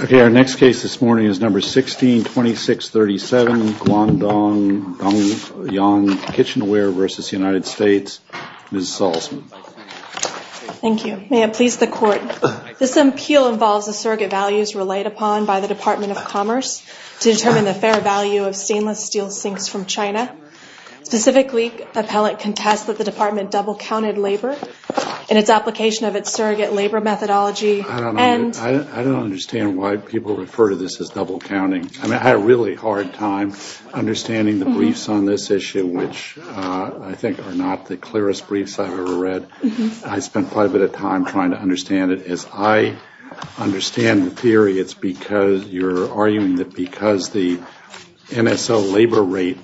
Okay, our next case this morning is number 162637, Guangdong, Dongyang, Kitchenware versus United States, Ms. Salzman. Thank you. May it please the court. This appeal involves the surrogate values relied upon by the Department of Commerce to determine the fair value of stainless steel sinks from China. Specifically, appellate contests that the department double-counted labor in its application of its surrogate labor methodology. I don't understand why people refer to this as double counting. I mean, I had a really hard time understanding the briefs on this issue which I think are not the clearest briefs I've ever read. I spent quite a bit of time trying to understand it. As I understand the theory, it's because you're arguing that because the MSO labor rate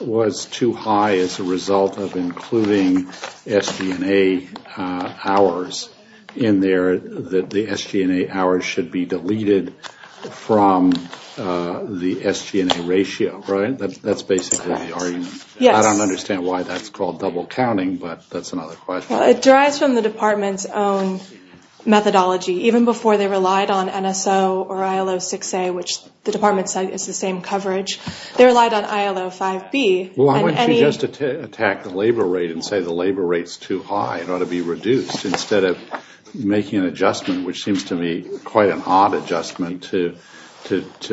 was too high as a result of including SG&A hours in there, that the SG&A hours should be deleted from the I don't understand why that's called double counting, but that's another question. It derives from the department's own methodology. Even before they relied on NSO or ILO 6A, which the department said is the same coverage, they relied on ILO 5B. Why wouldn't you just attack the labor rate and say the labor rate's too high, it ought to be reduced, instead of making an adjustment, which seems to me quite an odd adjustment, to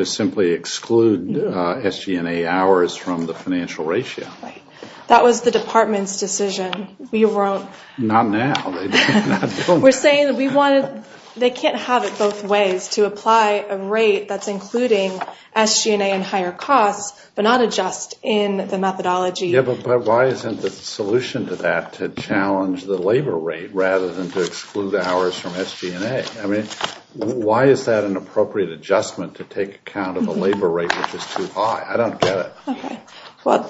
simply exclude SG&A hours from the financial ratio. That was the department's decision. Not now. We're saying that they can't have it both ways, to apply a rate that's including SG&A and higher costs, but not adjust in the methodology. Yeah, but why isn't the solution to that to challenge the labor rate rather than to exclude hours from SG&A? I mean, why is that an appropriate adjustment to take account of the labor rate, which is too high? I don't get it. Well,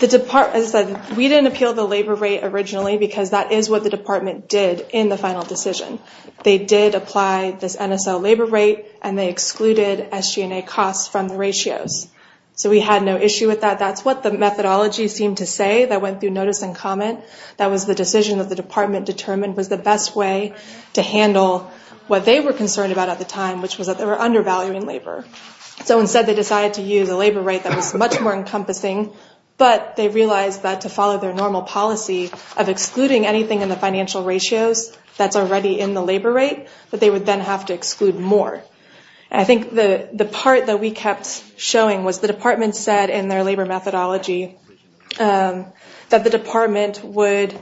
we didn't appeal the labor rate originally, because that is what the department did in the final decision. They did apply this NSO labor rate, and they excluded SG&A costs from the ratios. So we had no issue with that. That's what the methodology seemed to say that went through notice and comment. That was the decision that the department determined was the best way to handle what they were concerned about at the time, which was that they were undervaluing labor. So instead they decided to use a labor rate that was much more encompassing, but they realized that to follow their normal policy of excluding anything in the financial ratios that's already in the labor rate, that they would then have to exclude more. I think the the part that we kept showing was the department said in their labor methodology that the department would,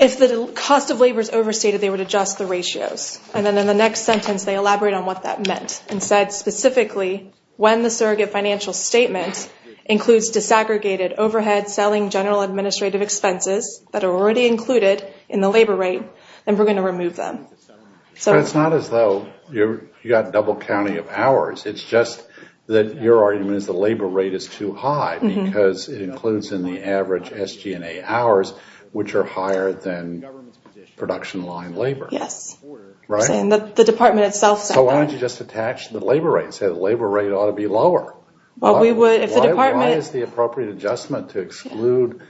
if the cost of labor is overstated, they would adjust the ratios. And then in the next sentence they elaborate on what that meant, and said specifically, when the surrogate financial statement includes disaggregated overhead selling general administrative expenses that are already included in the labor rate, then we're going to remove them. So it's not as though you got double counting of hours. It's just that your argument is the labor rate is too high, because it includes in the average SG&A hours, which are higher than production line labor. Yes. Right? And the department itself said that. So why don't you just attach the labor rate? Say the labor rate ought to be lower. Well we would, if the department... Why is the appropriate adjustment to exclude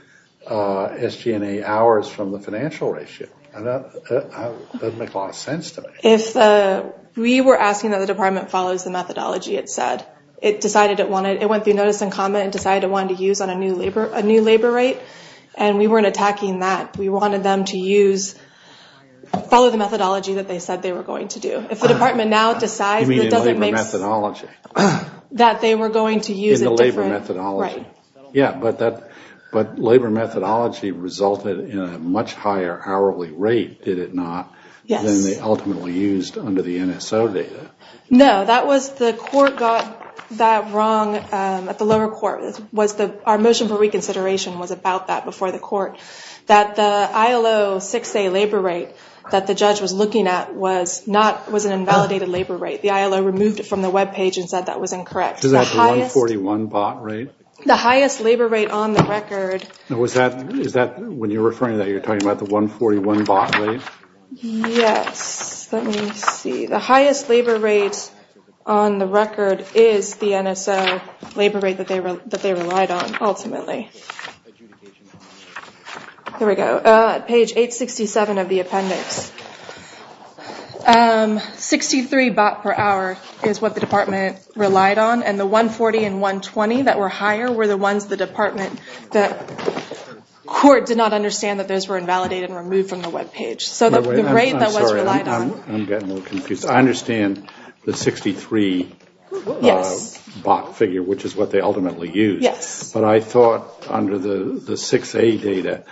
SG&A hours from the financial ratio? That doesn't make a lot of sense to me. If we were asking that the department follows the methodology it said, it decided it wanted, it went through notice and comment, and decided it wanted to use on a new labor, a new labor rate, and we weren't attacking that. We wanted them to use, follow the methodology that they said they were going to do. If the department now decides... You mean in labor methodology? That they were going to use a different... In the labor methodology. Right. Yeah, but that, but labor methodology resulted in a much higher hourly rate, did it not? Yes. Then they ultimately used under the NSO data. No, that was, the court got that wrong at the time. I doubt that before the court. That the ILO 6A labor rate that the judge was looking at was not, was an invalidated labor rate. The ILO removed it from the web page and said that was incorrect. Is that the 141 bot rate? The highest labor rate on the record. Was that, is that when you're referring that you're talking about the 141 bot rate? Yes, let me see. The highest labor rate on the record is the NSO labor rate that they relied on, ultimately. There we go. Page 867 of the appendix. 63 bot per hour is what the department relied on, and the 140 and 120 that were higher were the ones the department, the court did not understand that those were invalidated and removed from the web page. So the rate that was relied on... I'm getting a little confused. I understand the 63 bot figure, which is what they ultimately used, but I thought under the the 6A data,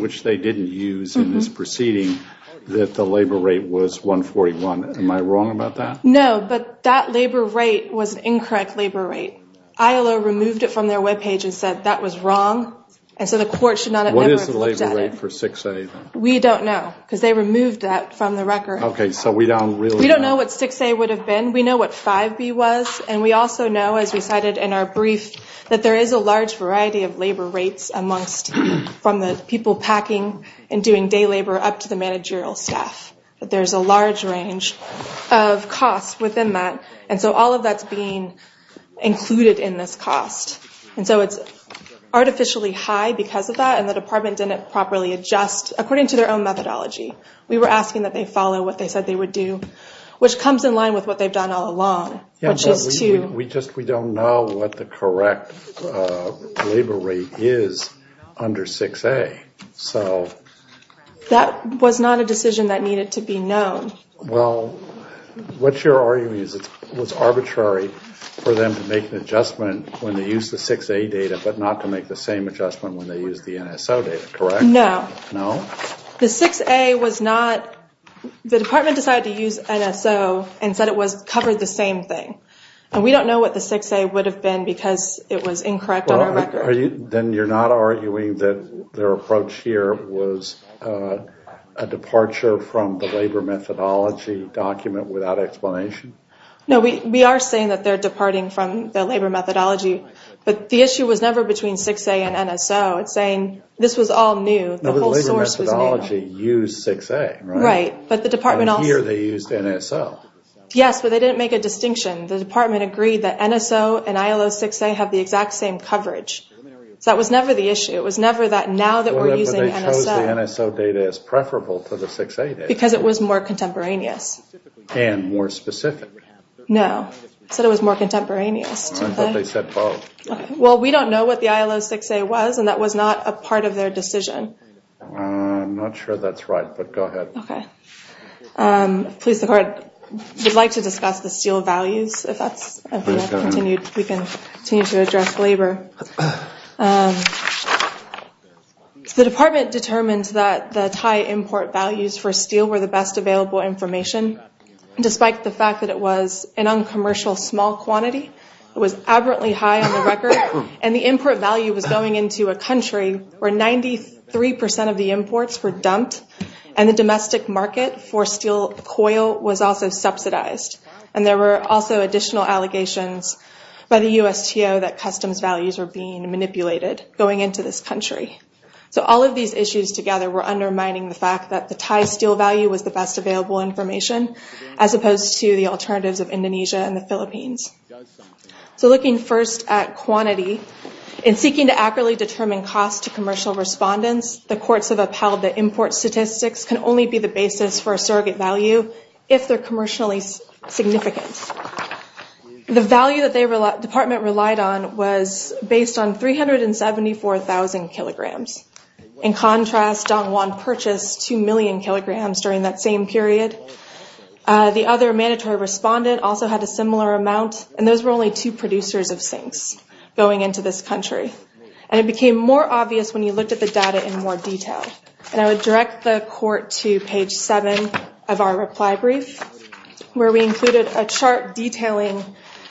which they didn't use in this proceeding, that the labor rate was 141. Am I wrong about that? No, but that labor rate was an incorrect labor rate. ILO removed it from their web page and said that was wrong, and so the court should not have ever looked at it. What is the labor rate for 6A? We don't know, because they removed that from the record. Okay, so we don't really know. We don't know what 6A would have been. We know what 5B was, and we also know as we cited in our brief, that there is a large variety of labor rates amongst, from the people packing and doing day labor up to the managerial staff, but there's a large range of costs within that, and so all of that's being included in this cost, and so it's artificially high because of that, and the department didn't properly adjust according to their own methodology. We were asking that they follow what they said they would do, which comes in line with what they said they would do, and we don't know what the correct labor rate is under 6A, so... That was not a decision that needed to be known. Well, what you're arguing is it was arbitrary for them to make an adjustment when they used the 6A data, but not to make the same adjustment when they used the NSO data, correct? No. No? The 6A was not, the department decided to use NSO and said it was covered the same thing, and we don't know what the 6A would have been because it was incorrect on our record. Then you're not arguing that their approach here was a departure from the labor methodology document without explanation? No, we are saying that they're departing from the labor methodology, but the issue was never between 6A and NSO. It's saying this was all new. The labor methodology used 6A, right? Right, but the department also... And here they used NSO. Yes, but they didn't make a distinction. The department agreed that NSO and ILO 6A have the exact same coverage, so that was never the issue. It was never that now that we're using NSO... But they chose the NSO data as preferable to the 6A data. Because it was more contemporaneous. And more specific. No, said it was more contemporaneous. But they said both. Well, we don't know what the ILO 6A was, and that was not a part of their decision. I'm not sure that's right, but go ahead. Okay. Please, the court would like to discuss the steel values. If that's continued, we can continue to address labor. The department determines that the Thai import values for steel were the best available information, despite the fact that it was an uncommercial small quantity. It was aberrantly high on the record, and the import value was going into a country where 93% of the imports were dumped, and the domestic market for steel coil was also subsidized. And there were also additional allegations by the USTO that customs values are being manipulated going into this country. So all of these issues together were undermining the fact that the Thai steel value was the best available information, as opposed to the alternatives of Indonesia and the Philippines. So looking first at quantity, in seeking to properly determine cost to commercial respondents, the courts have upheld that import statistics can only be the basis for a surrogate value if they're commercially significant. The value that the department relied on was based on 374,000 kilograms. In contrast, Dong Wan purchased 2 million kilograms during that same period. The other mandatory respondent also had a similar amount, and those were only two producers of sinks going into this country. And it became more obvious when you looked at the data in more detail. And I would direct the court to page 7 of our reply brief, where we included a chart detailing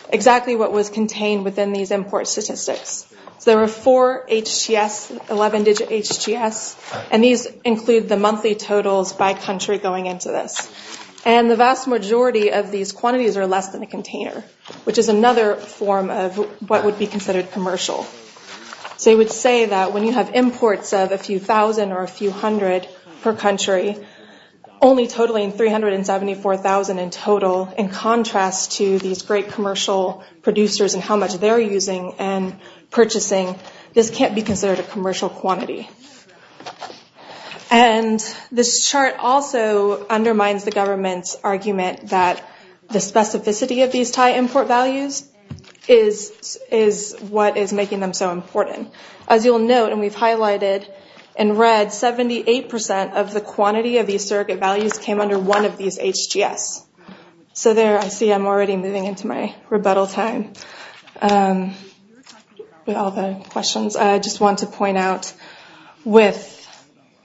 exactly what was contained within these import statistics. So there were four HGS, 11-digit HGS, and these include the monthly totals by country going into this. And the vast majority of these quantities are less than a container, which is another form of what would be considered commercial. So you would say that when you have imports of a few thousand or a few hundred per country, only totaling 374,000 in total, in contrast to these great commercial producers and how much they're using and purchasing, this can't be considered a commercial quantity. And this chart also undermines the government's argument that the specificity of these Thai import values is what is making them so important. As you'll note, and we've highlighted in red, 78% of the quantity of these surrogate values came under one of these HGS. So there, I see I'm already moving into my rebuttal time. With all the questions, I just want to point out with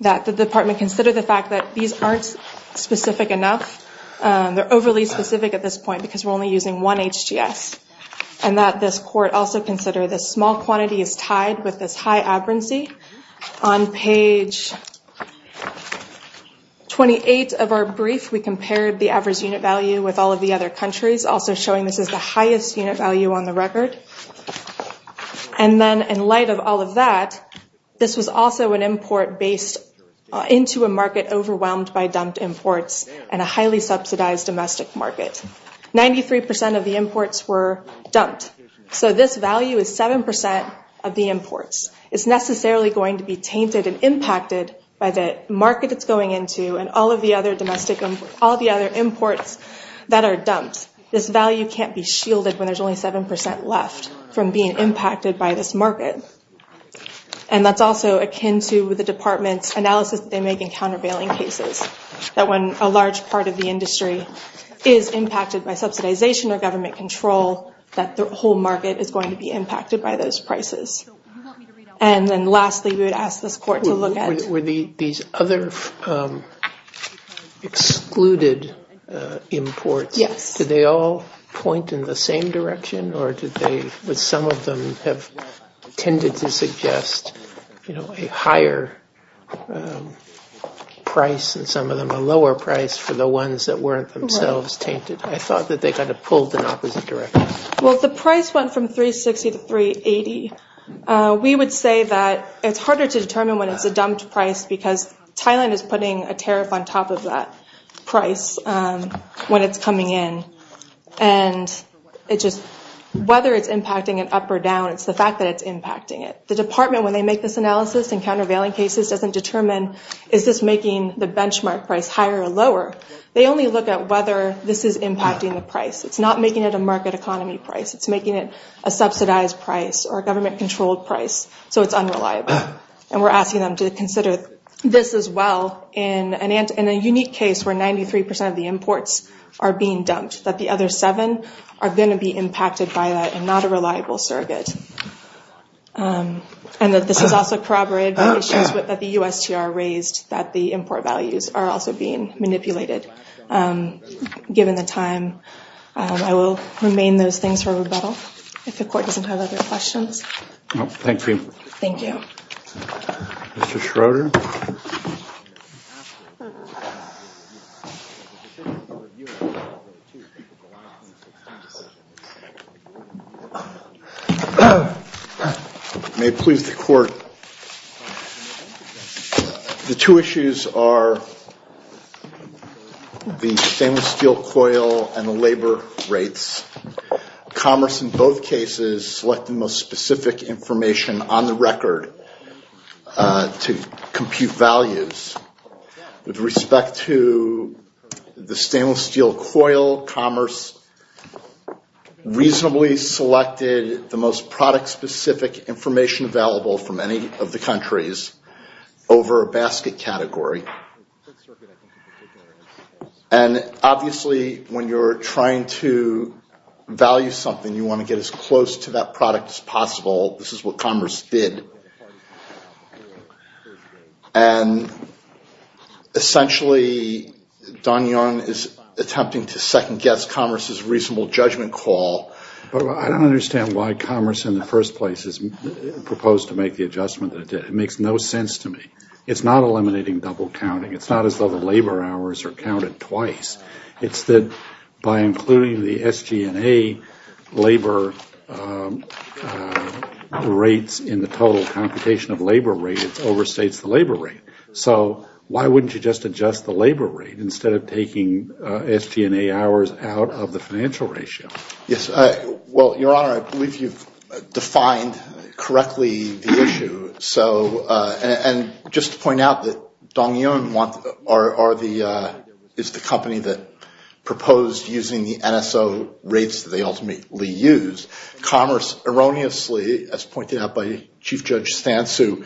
that the department considered the fact that these aren't specific enough. They're overly specific at this point because we're only using one HGS. And that this court also considered this small quantity is tied with this high aberrancy. On page 28 of our brief, we compared the average unit value with all of the other countries, also showing this is the highest unit value on the record. And then in light of all of that, this was also an import based into a market overwhelmed by dumped imports and a 33% of the imports were dumped. So this value is 7% of the imports. It's necessarily going to be tainted and impacted by the market it's going into and all of the other imports that are dumped. This value can't be shielded when there's only 7% left from being impacted by this market. And that's also akin to the department's analysis they make in countervailing cases. That when a large part of the industry is impacted by subsidization or government control, that the whole market is going to be impacted by those prices. And then lastly, we would ask this court to look at... Were these other excluded imports, did they all point in the same direction or did they, would some of them have tended to suggest a higher price and some of them a lower price for the ones that weren't themselves tainted? I thought that they kind of pulled in opposite directions. Well the price went from 360 to 380. We would say that it's harder to determine when it's a dumped price because Thailand is putting a tariff on top of that price when it's coming in and it just, whether it's impacting it up or down, it's the fact that it's impacting it. The department, when they make this analysis in countervailing cases, doesn't determine is this making the benchmark price higher or lower. They only look at whether this is impacting the price. It's not making it a market economy price. It's making it a subsidized price or a government controlled price. So it's unreliable. And we're asking them to consider this as well in a unique case where 93% of the imports are being dumped. That the other seven are going to be impacted by that and not a reliable surrogate. And that this is also corroborated by issues that the USTR raised that the import values are also being manipulated. Given the time, I will remain those things for rebuttal. If the court doesn't have other questions. Thank you, Mr. Schroeder. May it please the court. The two issues are the stainless steel coil and the labor rates. Commerce in both cases select the most specific information on compute values. With respect to the stainless steel coil, commerce reasonably selected the most product-specific information available from any of the countries over a basket category. And obviously when you're trying to value something, you want to get as close to that product as possible. This is what essentially Don Young is attempting to second-guess commerce's reasonable judgment call. I don't understand why commerce in the first place has proposed to make the adjustment. It makes no sense to me. It's not eliminating double counting. It's not as though the labor hours are counted twice. It's that by including the SG&A labor rates in the total computation of labor rates over the total computation of the labor rate. So why wouldn't you just adjust the labor rate instead of taking SG&A hours out of the financial ratio. Yes, well, your honor, I believe you've defined correctly the issue. So and just to point out that Don Young is the company that proposed using the NSO rates that they ultimately use. Commerce erroneously, as pointed out by Chief Judge Stansu,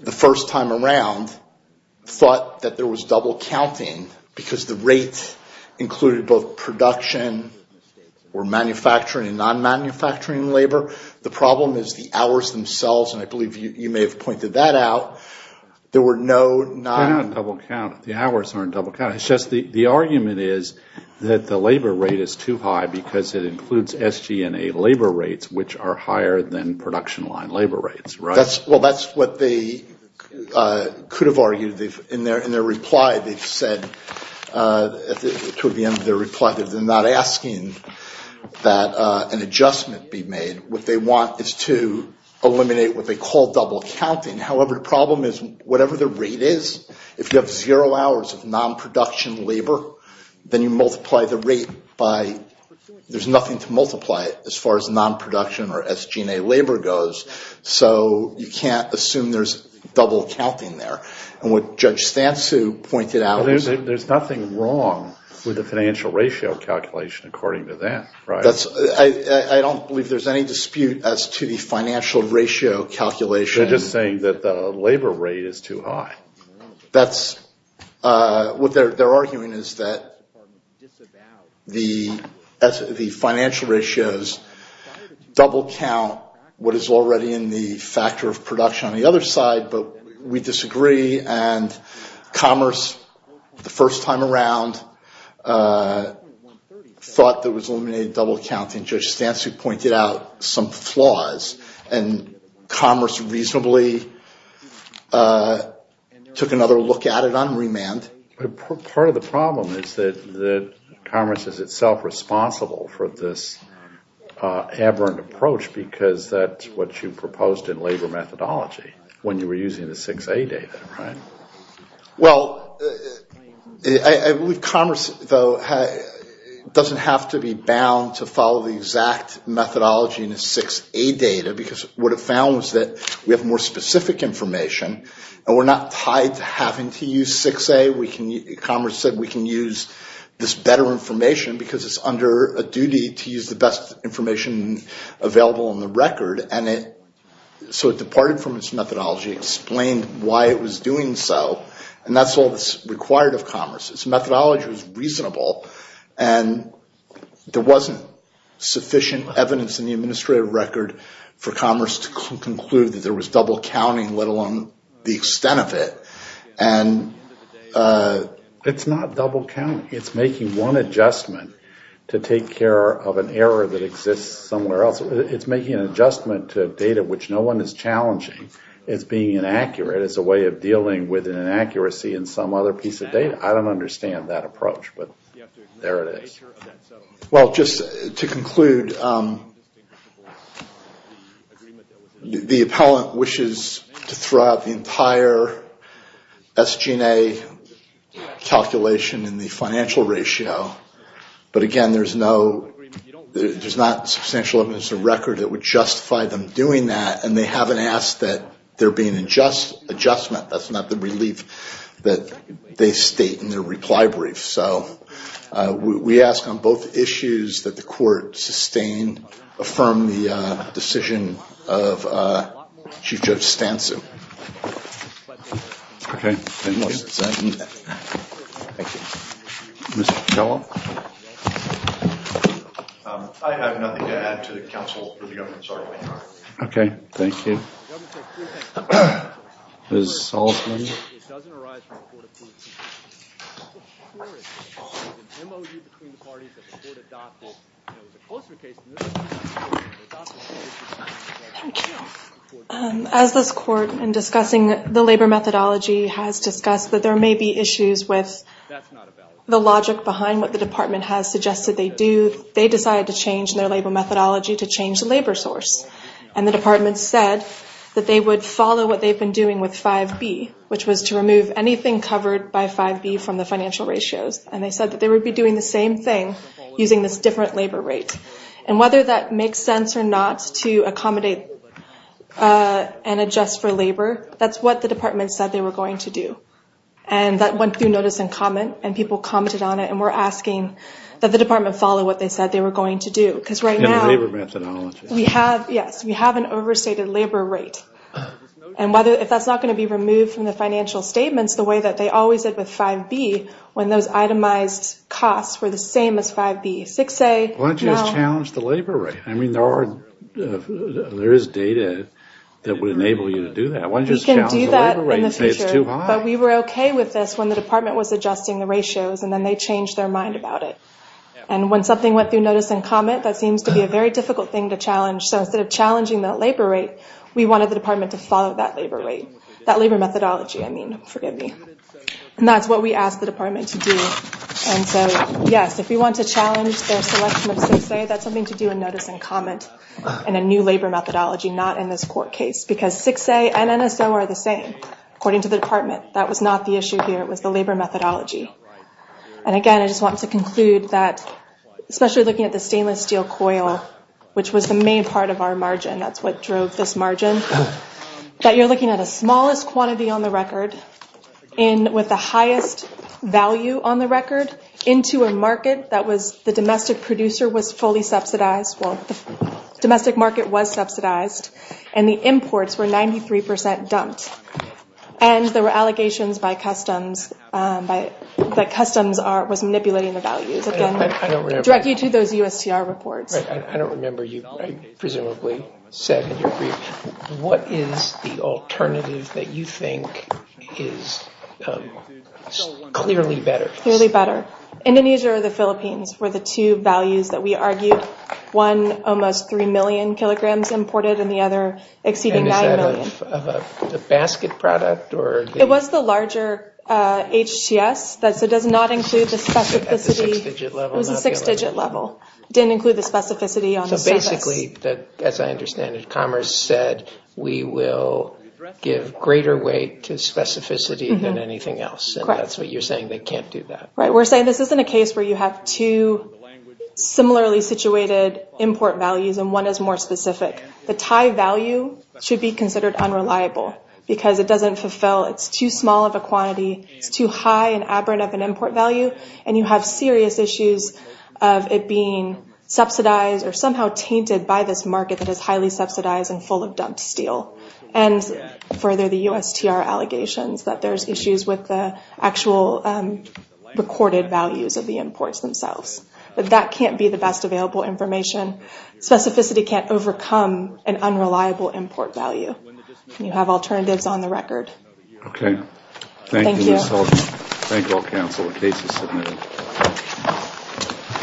the first time around, thought that there was double counting because the rates included both production or manufacturing and non-manufacturing labor. The problem is the hours themselves, and I believe you may have pointed that out, there were no... They don't double count. The hours aren't double counted. It's just the argument is that the labor rate is too high because it is a production line labor rates, right? Well, that's what they could have argued. In their reply, they've said, toward the end of their reply, that they're not asking that an adjustment be made. What they want is to eliminate what they call double counting. However, the problem is whatever the rate is, if you have zero hours of non-production labor, then you multiply the rate by... There's nothing to multiply it as far as non-production or manufacturing goes, so you can't assume there's double counting there. And what Judge Stansu pointed out is... There's nothing wrong with the financial ratio calculation according to that, right? I don't believe there's any dispute as to the financial ratio calculation. They're just saying that the labor rate is too high. That's... What they're arguing is that the financial ratios double count what is already in the factor of production on the other side, but we disagree and Commerce, the first time around, thought that was eliminated double counting. Judge Stansu pointed out some flaws and Commerce reasonably took another look at it on remand. But part of the problem is that Commerce is itself responsible for this aberrant approach because that's what you proposed in labor methodology when you were using the 6A data, right? Well, I believe Commerce, though, doesn't have to be bound to follow the exact methodology in the 6A data because what it found was that we have more specific information and we're not tied to having to use 6A. Commerce said we can use this better information because it's under a duty to use the best information available on the record. And so it departed from its methodology, explained why it was doing so, and that's all that's required of Commerce. Its methodology was reasonable and there wasn't sufficient evidence in the administrative record for Commerce to conclude that there was double counting, let alone the extent of it. And it's not double counting. It's making one adjustment to take care of an error that exists somewhere else. It's making an adjustment to data which no one is challenging. It's being inaccurate as a way of dealing with an inaccuracy in some other piece of data. I don't understand that approach, but there it is. Well, just to conclude, the appellant wishes to throw out the entire SG&A calculation in the financial ratio, but again, there's not substantial evidence of record that would justify them doing that, and they haven't asked that there be an adjustment. That's not the relief that they state in their reply brief. So we ask on both issues that the court sustain, affirm the decision of Chief Judge Stansu. Okay. Thank you. Thank you. Mr. Kello? I have nothing to add to the counsel for the government. Sorry. Okay. Thank you. Ms. Altman? It doesn't arise from the Court of Appeals. Thank you. As this Court, in discussing the labor methodology, has discussed that there may be issues with the logic behind what the department has suggested they do, they decided to change their labor methodology to change the labor source. And the department said that they would follow what they've been doing with 5B, which was to remove anything covered by 5B from the financial ratios. And they said that they would be doing the same thing using this different labor rate. And whether that makes sense or not to accommodate and adjust for labor, that's what the department said they were going to do. And that went through notice and comment, and people commented on it, and were asking that the department follow what they said they were going to do. In the labor methodology. Yes, we have an overstated labor rate. And if that's not going to be removed from the financial statements the way that they always did with 5B, when those itemized costs were the same as 5B, 6A... Why don't you just challenge the labor rate? I mean, there is data that would enable you to do that. We can do that in the future. But we were okay with this when the department was adjusting the ratios, and then they changed their mind about it. And when something went through notice and comment, that seems to be a very difficult thing to challenge. So instead of challenging that labor rate, we wanted the department to follow that labor rate. That labor methodology, I mean. Forgive me. And that's what we asked the department to do. And so, yes, if we want to challenge their selection of 6A, that's something to do in notice and comment. And a new labor methodology, not in this court case. Because 6A and NSO are the same. According to the department. That was not the issue here. It was the labor methodology. And again, I just want to conclude that, especially looking at the stainless steel coil, which was the main part of our margin. That's what drove this margin. That you're looking at the smallest quantity on the record with the highest value on the record into a market that the domestic producer was fully subsidized. Well, the domestic market was subsidized. And the imports were 93% dumped. And there were allegations by customs that customs was manipulating the values. Again, directly to those USTR reports. I don't remember. You presumably said in your brief, what is the alternative that you think is clearly better? Clearly better. Indonesia or the Philippines were the two values that we argued. One, almost 3 million kilograms imported. And the other, exceeding 9 million. Was that of a basket product? It was the larger HTS. So it does not include the specificity. It was a six-digit level. It didn't include the specificity on the surface. So basically, as I understand it, Commerce said, we will give greater weight to specificity than anything else. And that's what you're saying. They can't do that. We're saying this isn't a case where you have two similarly situated import values and one is more specific. The Thai value should be considered unreliable because it doesn't fulfill. It's too small of a quantity. It's too high and aberrant of an import value. And you have serious issues of it being subsidized or somehow tainted by this market that is highly subsidized and full of dumped steel. And further, the USTR allegations that there's issues with the actual recorded values of the imports themselves. But that can't be the best available information. Specificity can't overcome an unreliable import value. You have alternatives on the record. Okay. Thank you. Thank you. Thank you all, counsel. The case is submitted.